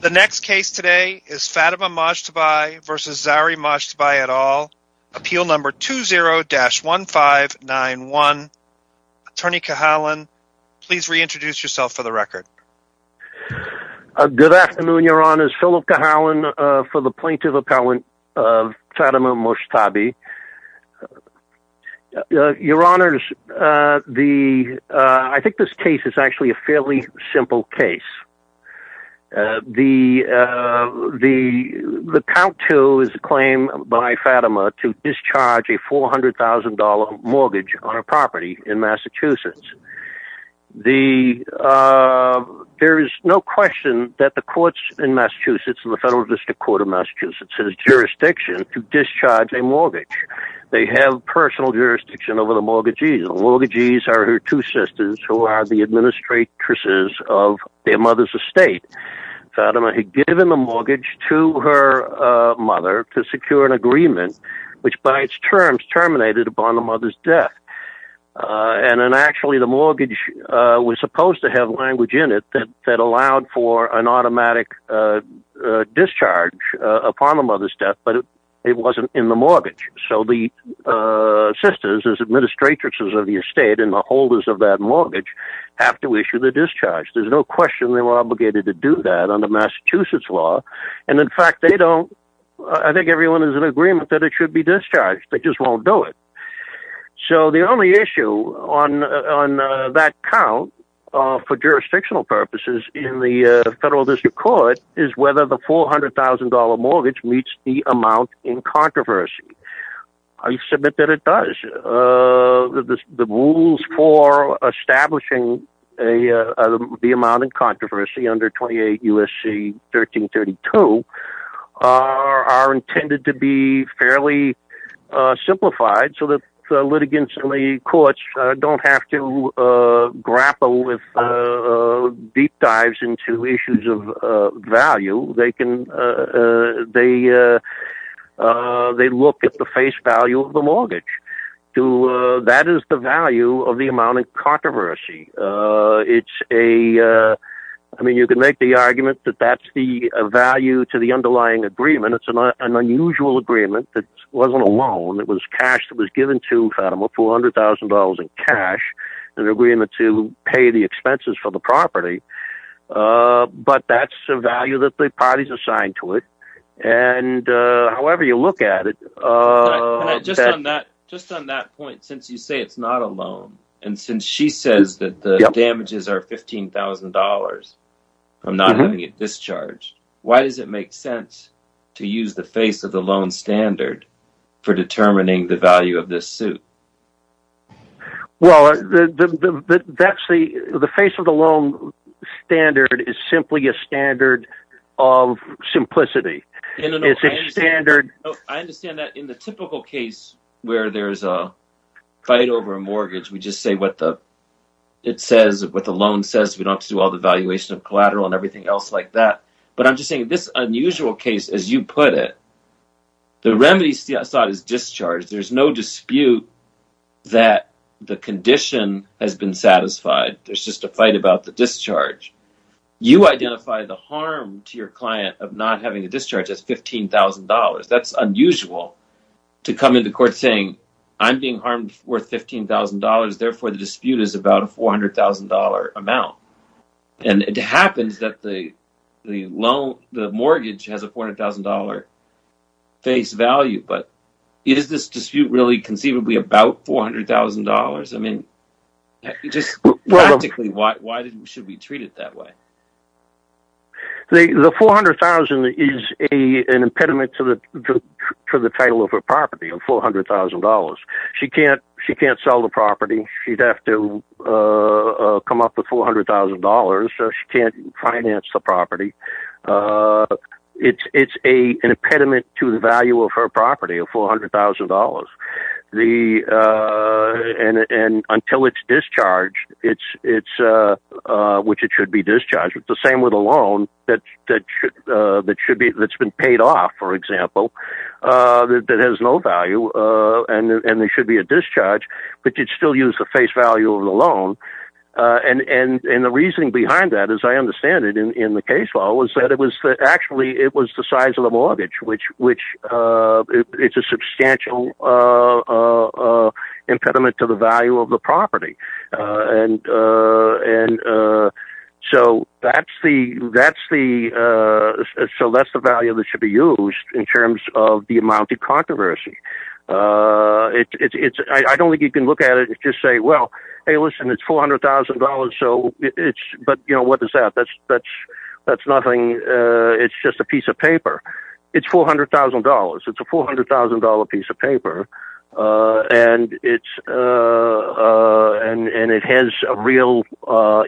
The next case today is Fatima Mojtabai v. Zahri Mojtabai et al. Appeal number 20-1591. Attorney Cahalan, please reintroduce yourself for the record. Good afternoon, Your Honors. Philip Cahalan for the Plaintiff Appellant of Fatima Mojtabai. Your Honors, I think this case is actually a fairly simple case. The count to is a claim by Fatima to discharge a $400,000 mortgage on a property in Massachusetts. There is no question that the courts in Massachusetts, the Federal District Court of Massachusetts, has jurisdiction to discharge a mortgage. They have personal jurisdiction over the mortgages. The mortgages are her two sisters, who are the administrators of their mother's estate. Fatima had given the mortgage to her mother to secure an agreement, which by its terms, terminated upon the mother's death. Actually, the mortgage was supposed to have language in it that allowed for an automatic discharge upon the mother's death, but it wasn't in the mortgage. The sisters, as administrators of the estate and the holders of that mortgage, have to issue the discharge. There's no question they were obligated to do that under Massachusetts law. In fact, I think everyone is in agreement that it should be discharged. They just won't do it. So the only issue on that count, for jurisdictional purposes in the Federal District Court, is whether the $400,000 mortgage meets the amount in controversy. I submit that it does. The rules for establishing the amount in controversy under 28 U.S.C. 1332 are intended to be fairly simplified so that litigants in the courts don't have to grapple with deep dives into issues of value. They look at the face value of the mortgage. That is the value of the amount in controversy. You could make the argument that that's the value to the underlying agreement. It's an unusual agreement that wasn't a loan. It was cash that was given to Fatima, $400,000 in cash, an agreement to pay the expenses for the property. But that's the value that the parties assigned to it. However you look at it... Just on that point, since you say it's not a loan, and since she says that the damages are $15,000 from not having it discharged, why does it make sense to use the face of the loan standard for determining the value of this suit? Well, the face of the loan standard is simply a standard of simplicity. I understand that. In the typical case where there's a fight over a mortgage, we just say what the loan says. We don't have to do all the valuation of collateral and everything else like that. But I'm just saying, in this unusual case, as you put it, the remedy is discharge. There's no dispute that the condition has been satisfied. There's just a fight about the discharge. You identify the harm to your client of not having a discharge as $15,000. That's unusual to come into court saying, I'm being harmed worth $15,000, therefore the dispute is about a $400,000 amount. And it happens that the mortgage has a $400,000 face value, but is this dispute really conceivably about $400,000? Practically, why should we treat it that way? The $400,000 is an impediment to the title of her property of $400,000. She can't sell the property. She'd have to come up with $400,000, so she can't finance the property. It's an impediment to the value of her property of $400,000. Until it's discharged, which it should be discharged, the same with a loan that's been paid off, for example, that has no value and there should be a discharge, but you'd still use the face value of the loan. And the reasoning behind that, as I understand it in the case law, was that actually it was the size of the mortgage, which is a substantial impediment to the value of the property. So that's the value that should be used in terms of the amount of controversy. I don't think you can look at it and just say, well, hey listen, it's $400,000, but what is that? It's $400,000. It's a $400,000 piece of paper and it has a real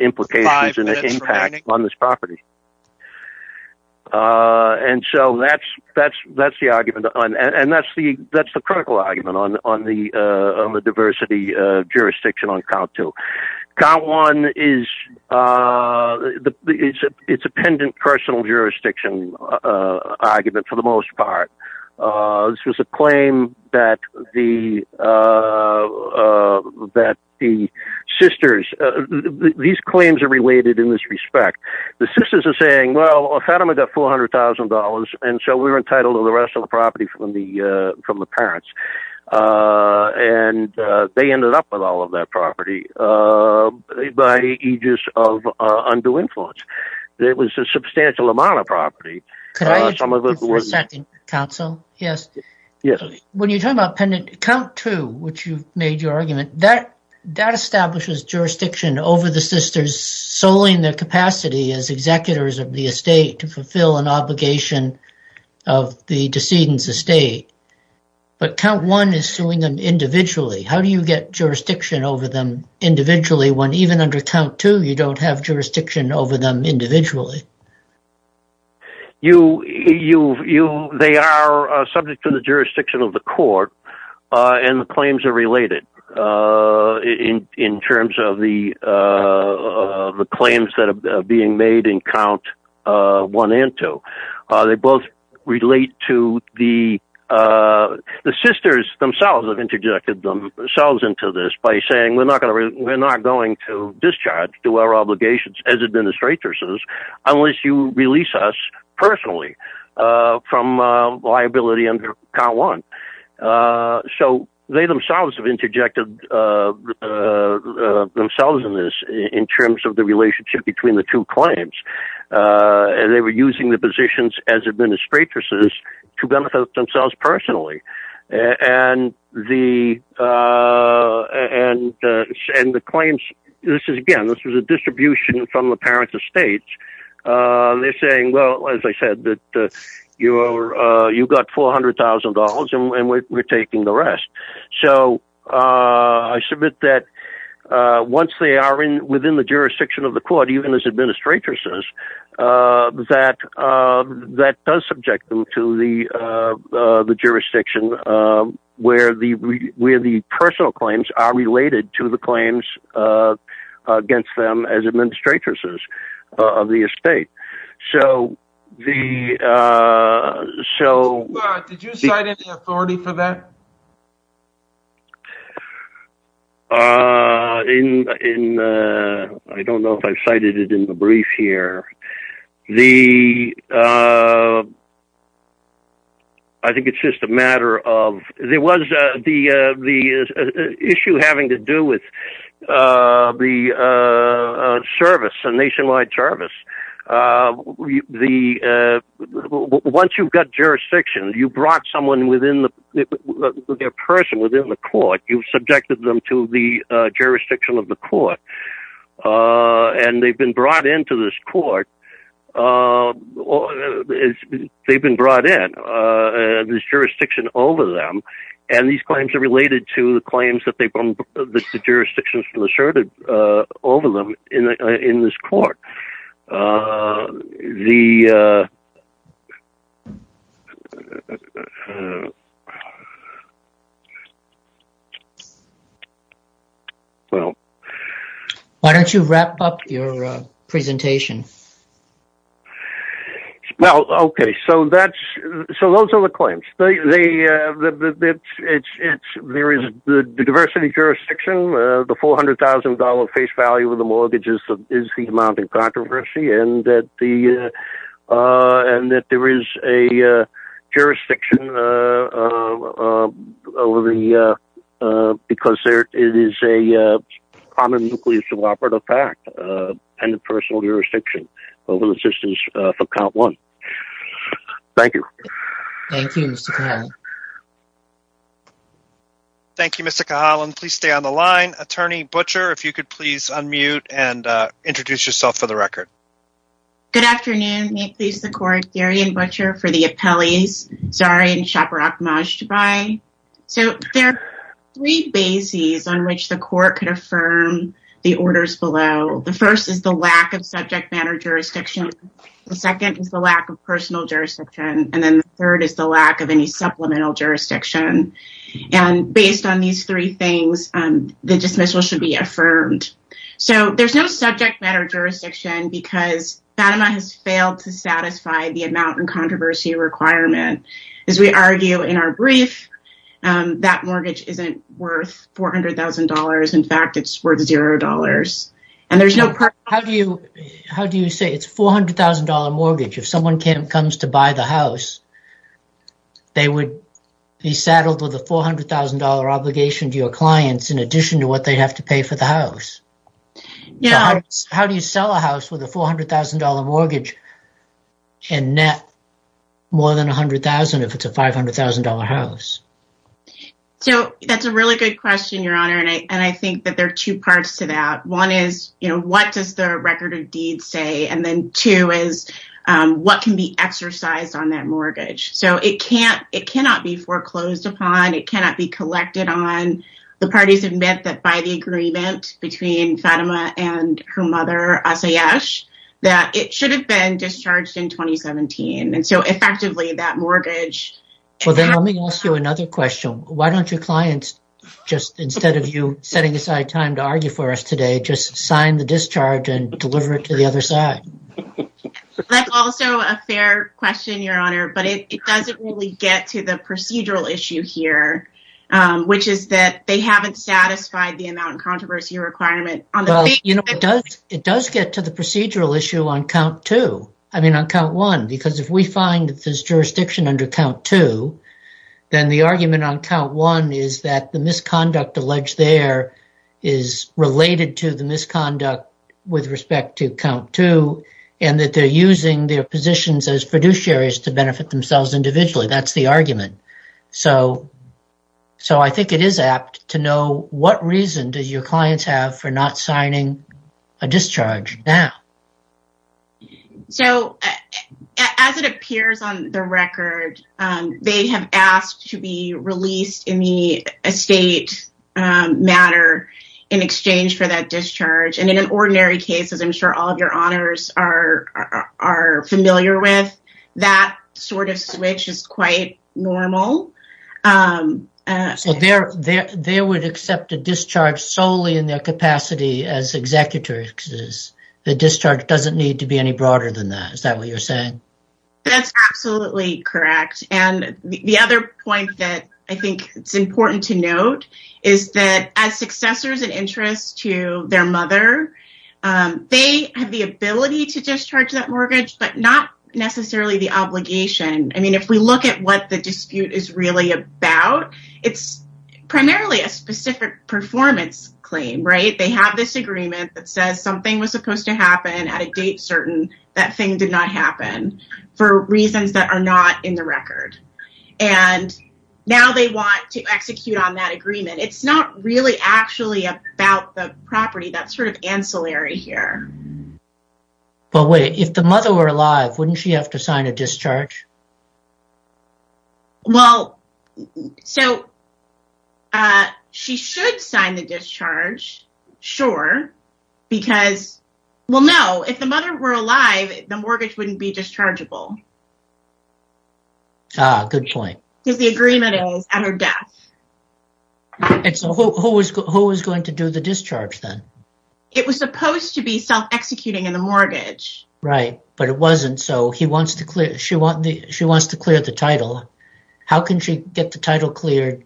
implication and an impact on this property. And so that's the argument. And that's the critical argument on the diversity jurisdiction on COW 2. COW 1, it's a pendant personal jurisdiction argument for the most part. This was a claim that the sisters, these claims are related in this respect. The sisters are saying, well, if I don't have $400,000 and so we were entitled to the rest of the property from the parents, and they ended up with all of that property by aegis of undue influence. It was a substantial amount of property. Could I ask you for a second, counsel? Yes. When you talk about pendant COW 2, which you've made your argument, that establishes jurisdiction over the sisters solely in their capacity as executors of the estate to fulfill an obligation of the decedent's estate. But COW 1 is suing them individually. How do you get jurisdiction over them individually when even under COW 2, you don't have jurisdiction over them individually? They are subject to the jurisdiction of the court and the claims are related in terms of the claims that are being made in COW 1 and 2. They both relate to the... The sisters themselves have interjected themselves into this by saying, we're not going to discharge to our obligations as administrators unless you release us personally from liability under COW 1. So they themselves have interjected themselves in this in terms of the relationship between the two claims. They were using the positions as administrators to benefit themselves personally. And the claims... Again, this was a distribution from the parents of states. They're saying, well, as I said, that you got $400,000 and we're taking the rest. So I submit that once they are within the jurisdiction of the court, even as administrators, that does subject them to the jurisdiction where the personal claims are related to the claims against them as administrators of the estate. Did you cite any authority for that? In... I don't know if I've cited it in the brief here. The... I think it's just a matter of... There was the issue having to do with the service, the nationwide service. The... Once you've got jurisdiction, you brought someone within the... Their person within the court. You've subjected them to the jurisdiction of the court. And they've been brought into this court. They've been brought in. There's jurisdiction over them. And these claims are related to the claims that they... The jurisdictions asserted over them in this court. The... The... Well... Why don't you wrap up your presentation? Well, okay. So that's... So those are the claims. They... It's... There is the diversity jurisdiction. The $400,000 face value with the mortgages is the amount in controversy. And that the... And that there is a jurisdiction over the... Because it is a common nuclear suboperative pact and a personal jurisdiction over the assistance for count one. Thank you. Thank you, Mr. Cahalan. Thank you, Mr. Cahalan. Please stay on the line. Attorney Butcher, if you could please unmute and introduce yourself for the record. Good afternoon. May it please the court. Darian Butcher for the appellees. Zahra and Shabarak Majdabai. So there are three bases on which the court could affirm the orders below. The first is the lack of subject matter jurisdiction. The second is the lack of personal jurisdiction. And then the third is the lack of any supplemental jurisdiction. And based on these three things, the dismissal should be affirmed. So there's no subject matter jurisdiction because FATMA has failed to satisfy the amount in controversy requirement. As we argue in our brief, that mortgage isn't worth $400,000. In fact, it's worth $0. And there's no... How do you say it's $400,000 mortgage? If someone comes to buy the house, they would be saddled with a $400,000 obligation to your clients in addition to what they'd have to pay for the house. How do you sell a house with a $400,000 mortgage and net more than $100,000 if it's a $500,000 house? So that's a really good question, Your Honor. And I think that there are two parts to that. One is what does the record of deeds say? And then two is what can be exercised on that mortgage? So it cannot be foreclosed upon. It cannot be collected on. The parties admit that by the agreement between FATMA and her mother, Asayesh, that it should have been discharged in 2017. And so effectively, that mortgage... Well, then let me ask you another question. Why don't your clients just, instead of you setting aside time to argue for us today, just sign the discharge and deliver it to the other side? That's also a fair question, Your Honor. But it doesn't really get to the procedural issue here, which is that they haven't satisfied the amount and controversy requirement. It does get to the procedural issue on count two. I mean, on count one, because if we find that there's jurisdiction under count two, then the argument on count one is that the misconduct alleged there is related to the misconduct with respect to count two and that they're using their positions as fiduciaries to benefit themselves individually. That's the argument. So I think it is apt to know what reason do your clients have for not signing a discharge now? So, as it appears on the record, they have asked to be released in the estate matter in exchange for that discharge. And in an ordinary case, as I'm sure all of your honors are familiar with, that sort of switch is quite normal. So they would accept a discharge solely in their capacity as executors. The discharge doesn't need to be any broader than that. Is that what you're saying? That's absolutely correct. And the other point that I think it's important to note is that as successors in interest to their mother, they have the ability to discharge that mortgage, but not necessarily the obligation. I mean, if we look at what the dispute is really about, it's primarily a specific performance claim, right? They have this agreement that says something was supposed to happen at a date certain that thing did not happen for reasons that are not in the record. And now they want to execute on that agreement. It's not really actually about the property. That's sort of ancillary here. But wait, if the mother were alive, wouldn't she have to sign a discharge? Well, so she should sign the discharge. Sure. Because, well, no, if the mother were alive, the mortgage wouldn't be dischargeable. Ah, good point. Because the agreement is at her death. And so who is going to do the discharge then? It was supposed to be self-executing in the mortgage. Right. But it wasn't. So she wants to clear the title. How can she get the title cleared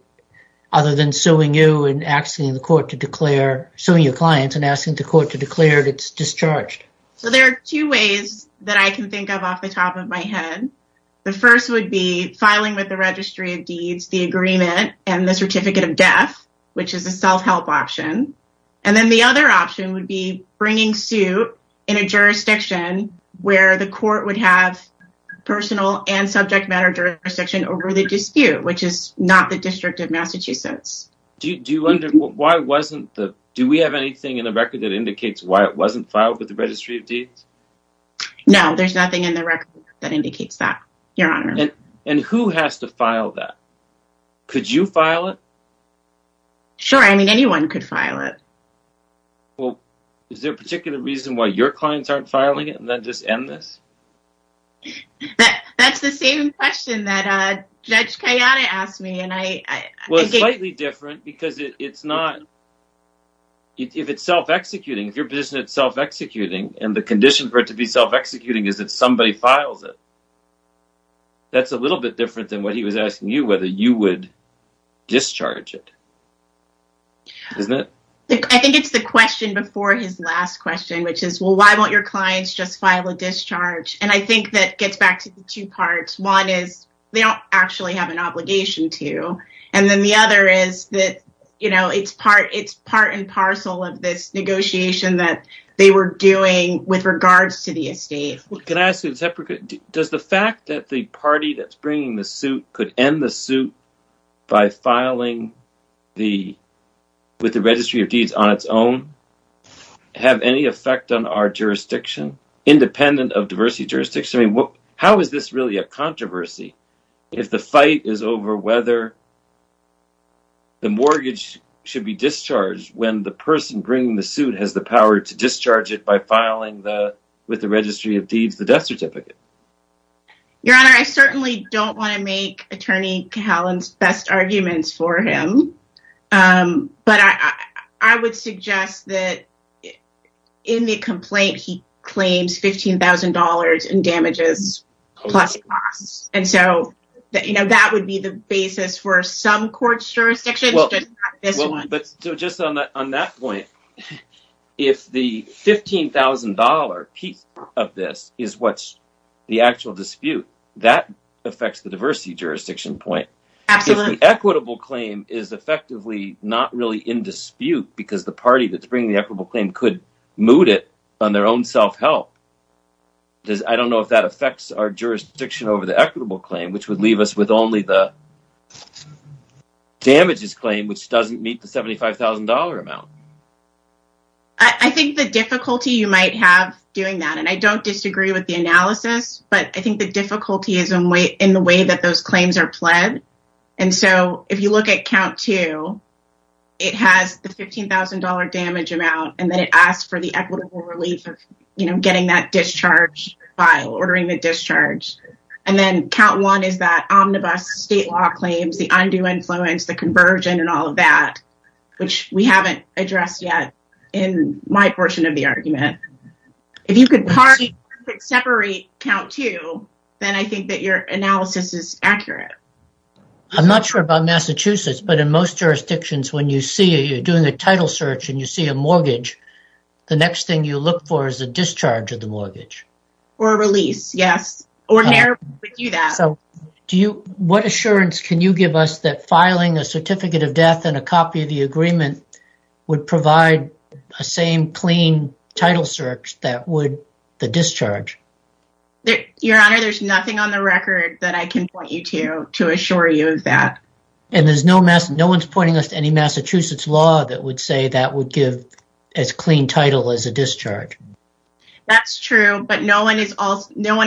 other than suing you and asking the court to declare, suing your clients and asking the court to declare it's discharged? So there are two ways that I can think of off the top of my head. The first would be filing with the Registry of Deeds the agreement and the certificate of death, which is a self-help option. And then the other option would be bringing suit in a jurisdiction where the court would have personal and subject matter jurisdiction over the dispute, which is not the District of Massachusetts. Do you wonder why wasn't the, do we have anything in the record that indicates why it wasn't filed with the Registry of Deeds? No, there's nothing in the record that indicates that, Your Honor. And who has to file that? Could you file it? Sure. I mean, anyone could file it. Well, is there a particular reason why your clients aren't filing it and then just end this? That's the same question that Judge Kayane asked me. Well, it's slightly different because it's not, if it's self-executing, if your position is self-executing and the condition for it to be self-executing is that somebody files it, that's a little bit different than what he was asking you whether you would discharge it. Isn't it? I think it's the question before his last question, which is, well, why won't your clients just file a discharge? And I think that gets back to the two parts. One is, they don't actually have an obligation to. And then the other is that, you know, it's part and parcel of this negotiation that they were doing with regards to the estate. Can I ask you, does the fact that the party that's bringing the suit could end the suit by filing with the Registry of Deeds on its own have any effect on our jurisdiction independent of diversity jurisdiction? I mean, how is this really a controversy if the fight is over whether the mortgage should be discharged when the person bringing the suit has the power to discharge it by filing with the Registry of Deeds the death certificate? Your Honor, I certainly don't want to make Attorney Cahalan's best arguments for him. But I would suggest that in the complaint he claims $15,000 in damages plus costs. And so, you know, that would be the basis for some court jurisdictions but not this one. But just on that point, if the $15,000 piece of this is what's the actual dispute, that affects the diversity jurisdiction point. Absolutely. If the equitable claim is effectively not really in dispute because the party that's bringing the equitable claim could moot it on their own self-help, I don't know if that affects our jurisdiction over the equitable claim which would leave us with only the damages claim which doesn't meet the $75,000 amount. I think the difficulty you might have doing that and I don't disagree with the analysis but I think the difficulty is in the way that those claims are pled. And so, if you look at count two it has the $15,000 damage amount and then it asks for the equitable relief of getting that discharge file, ordering the discharge. And then count one is that omnibus state law claims the undue influence the conversion and all of that which we haven't addressed yet in my portion of the argument. If you could partially separate count two then I think that your analysis is accurate. I'm not sure about Massachusetts but in most jurisdictions when you see you're doing a title search and you see a mortgage the next thing you look for is a discharge of the mortgage. Or a release, yes. Ordinarily we do that. So, what assurance can you give us that filing a certificate of death and a copy of the agreement would provide a same clean title search that would the discharge? Your Honor, there's nothing on the record that I can point you to to assure you of that. And there's no one's pointing us to any Massachusetts law that would say that would give as clean title as a discharge? That's true but no one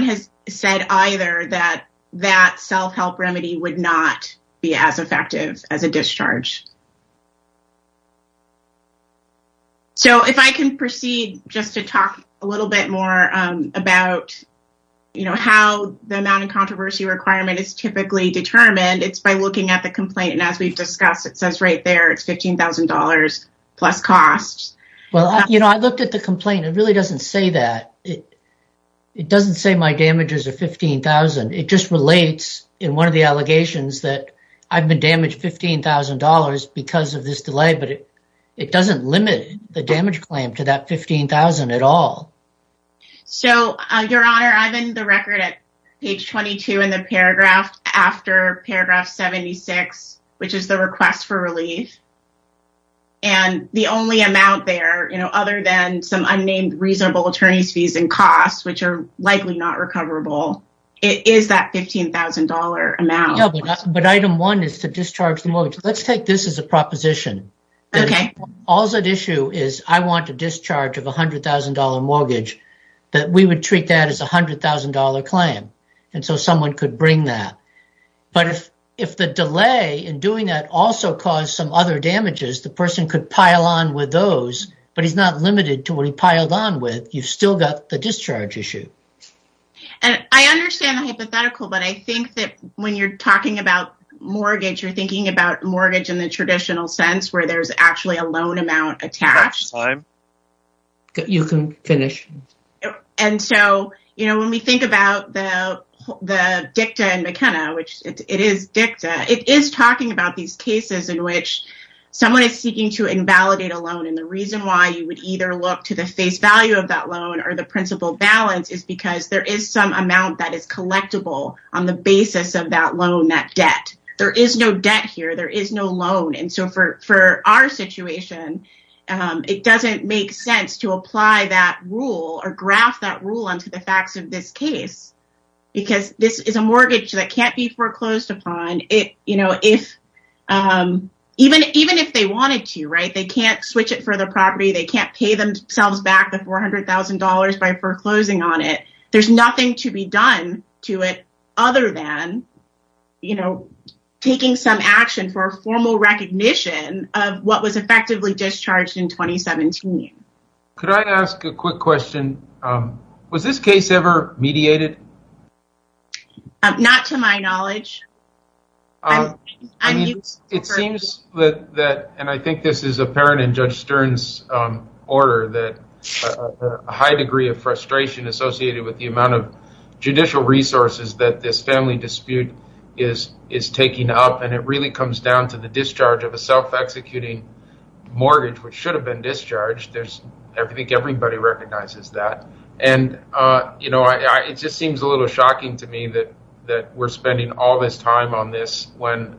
has said either that that self-help remedy would not be as effective as a discharge. So, if I can proceed just to talk a little bit more about you know how the amount of controversy requirement is typically determined it's by looking at the complaint and as we've discussed it says right there it's $15,000 plus costs. Well, you know I looked at the complaint it really doesn't say that. It doesn't say my damages are $15,000. It just relates in one of the allegations that I've been damaged $15,000 because of this delay but it doesn't limit the damage claim to that $15,000 at all. So, your honor I'm in the record at page 22 in the paragraph after paragraph 76 which is the request for relief and the only amount there you know other than some unnamed reasonable attorneys fees and costs which are likely not recoverable it is that $15,000 amount. No, but item one is to discharge the mortgage. Let's take this as a proposition. Okay. All's at issue is I want to discharge of a $100,000 mortgage that we would treat that as a $100,000 claim and so someone could bring that but if if the delay in doing that also caused some other damages the person could pile on with those but he's not limited to what he piled on with you've still got the discharge issue. I understand the hypothetical but I think that when you're talking about mortgage you're thinking about mortgage in the traditional sense where there's actually a loan amount attached you can finish and so you know when we think about the the dicta and McKenna which it is dicta it is talking about these cases in which someone is seeking to invalidate a loan and the reason why you would either look to the face value of that loan or the principal balance is because there is some amount that is collectible on the basis of that loan that debt. There is no debt here there is no loan and so for for our situation it doesn't make sense to apply that rule or graph that rule onto the facts of this case because this is a mortgage that can't be foreclosed upon it you know if even even if they wanted to right they can't switch it for the property they can't pay themselves back the $400,000 by foreclosing on it there is nothing to be done to it other than you know taking some action for a formal recognition of what was effectively discharged in 2017. Could I ask a quick question was this case ever mediated? Not to my knowledge I mean it seems that and I think this is apparent in Judge Stern's order that a high degree of frustration associated with the amount of judicial resources that this family dispute is taking up and it really comes down to the discharge of a self-executing mortgage which should have been discharged I think everybody recognizes that and you know it just seems a little shocking to me that we're spending all this time on this when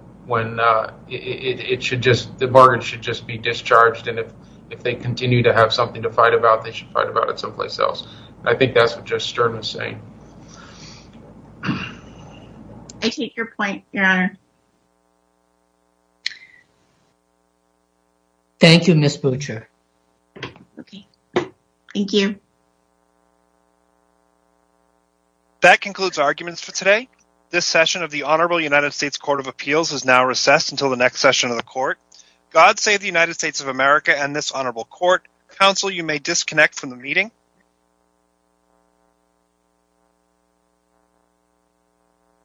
it should just the mortgage should just be discharged and if they continue to have something to fight about they should fight about it someplace else and I think that's what Judge Stern was saying. I take your point your honor. Thank you Ms. Butcher. Okay thank you. That concludes arguments for today. This session of the Honorable United States Court of Appeals is now recessed until the next session of the court. God save the United States of America and this honorable court. Counsel you may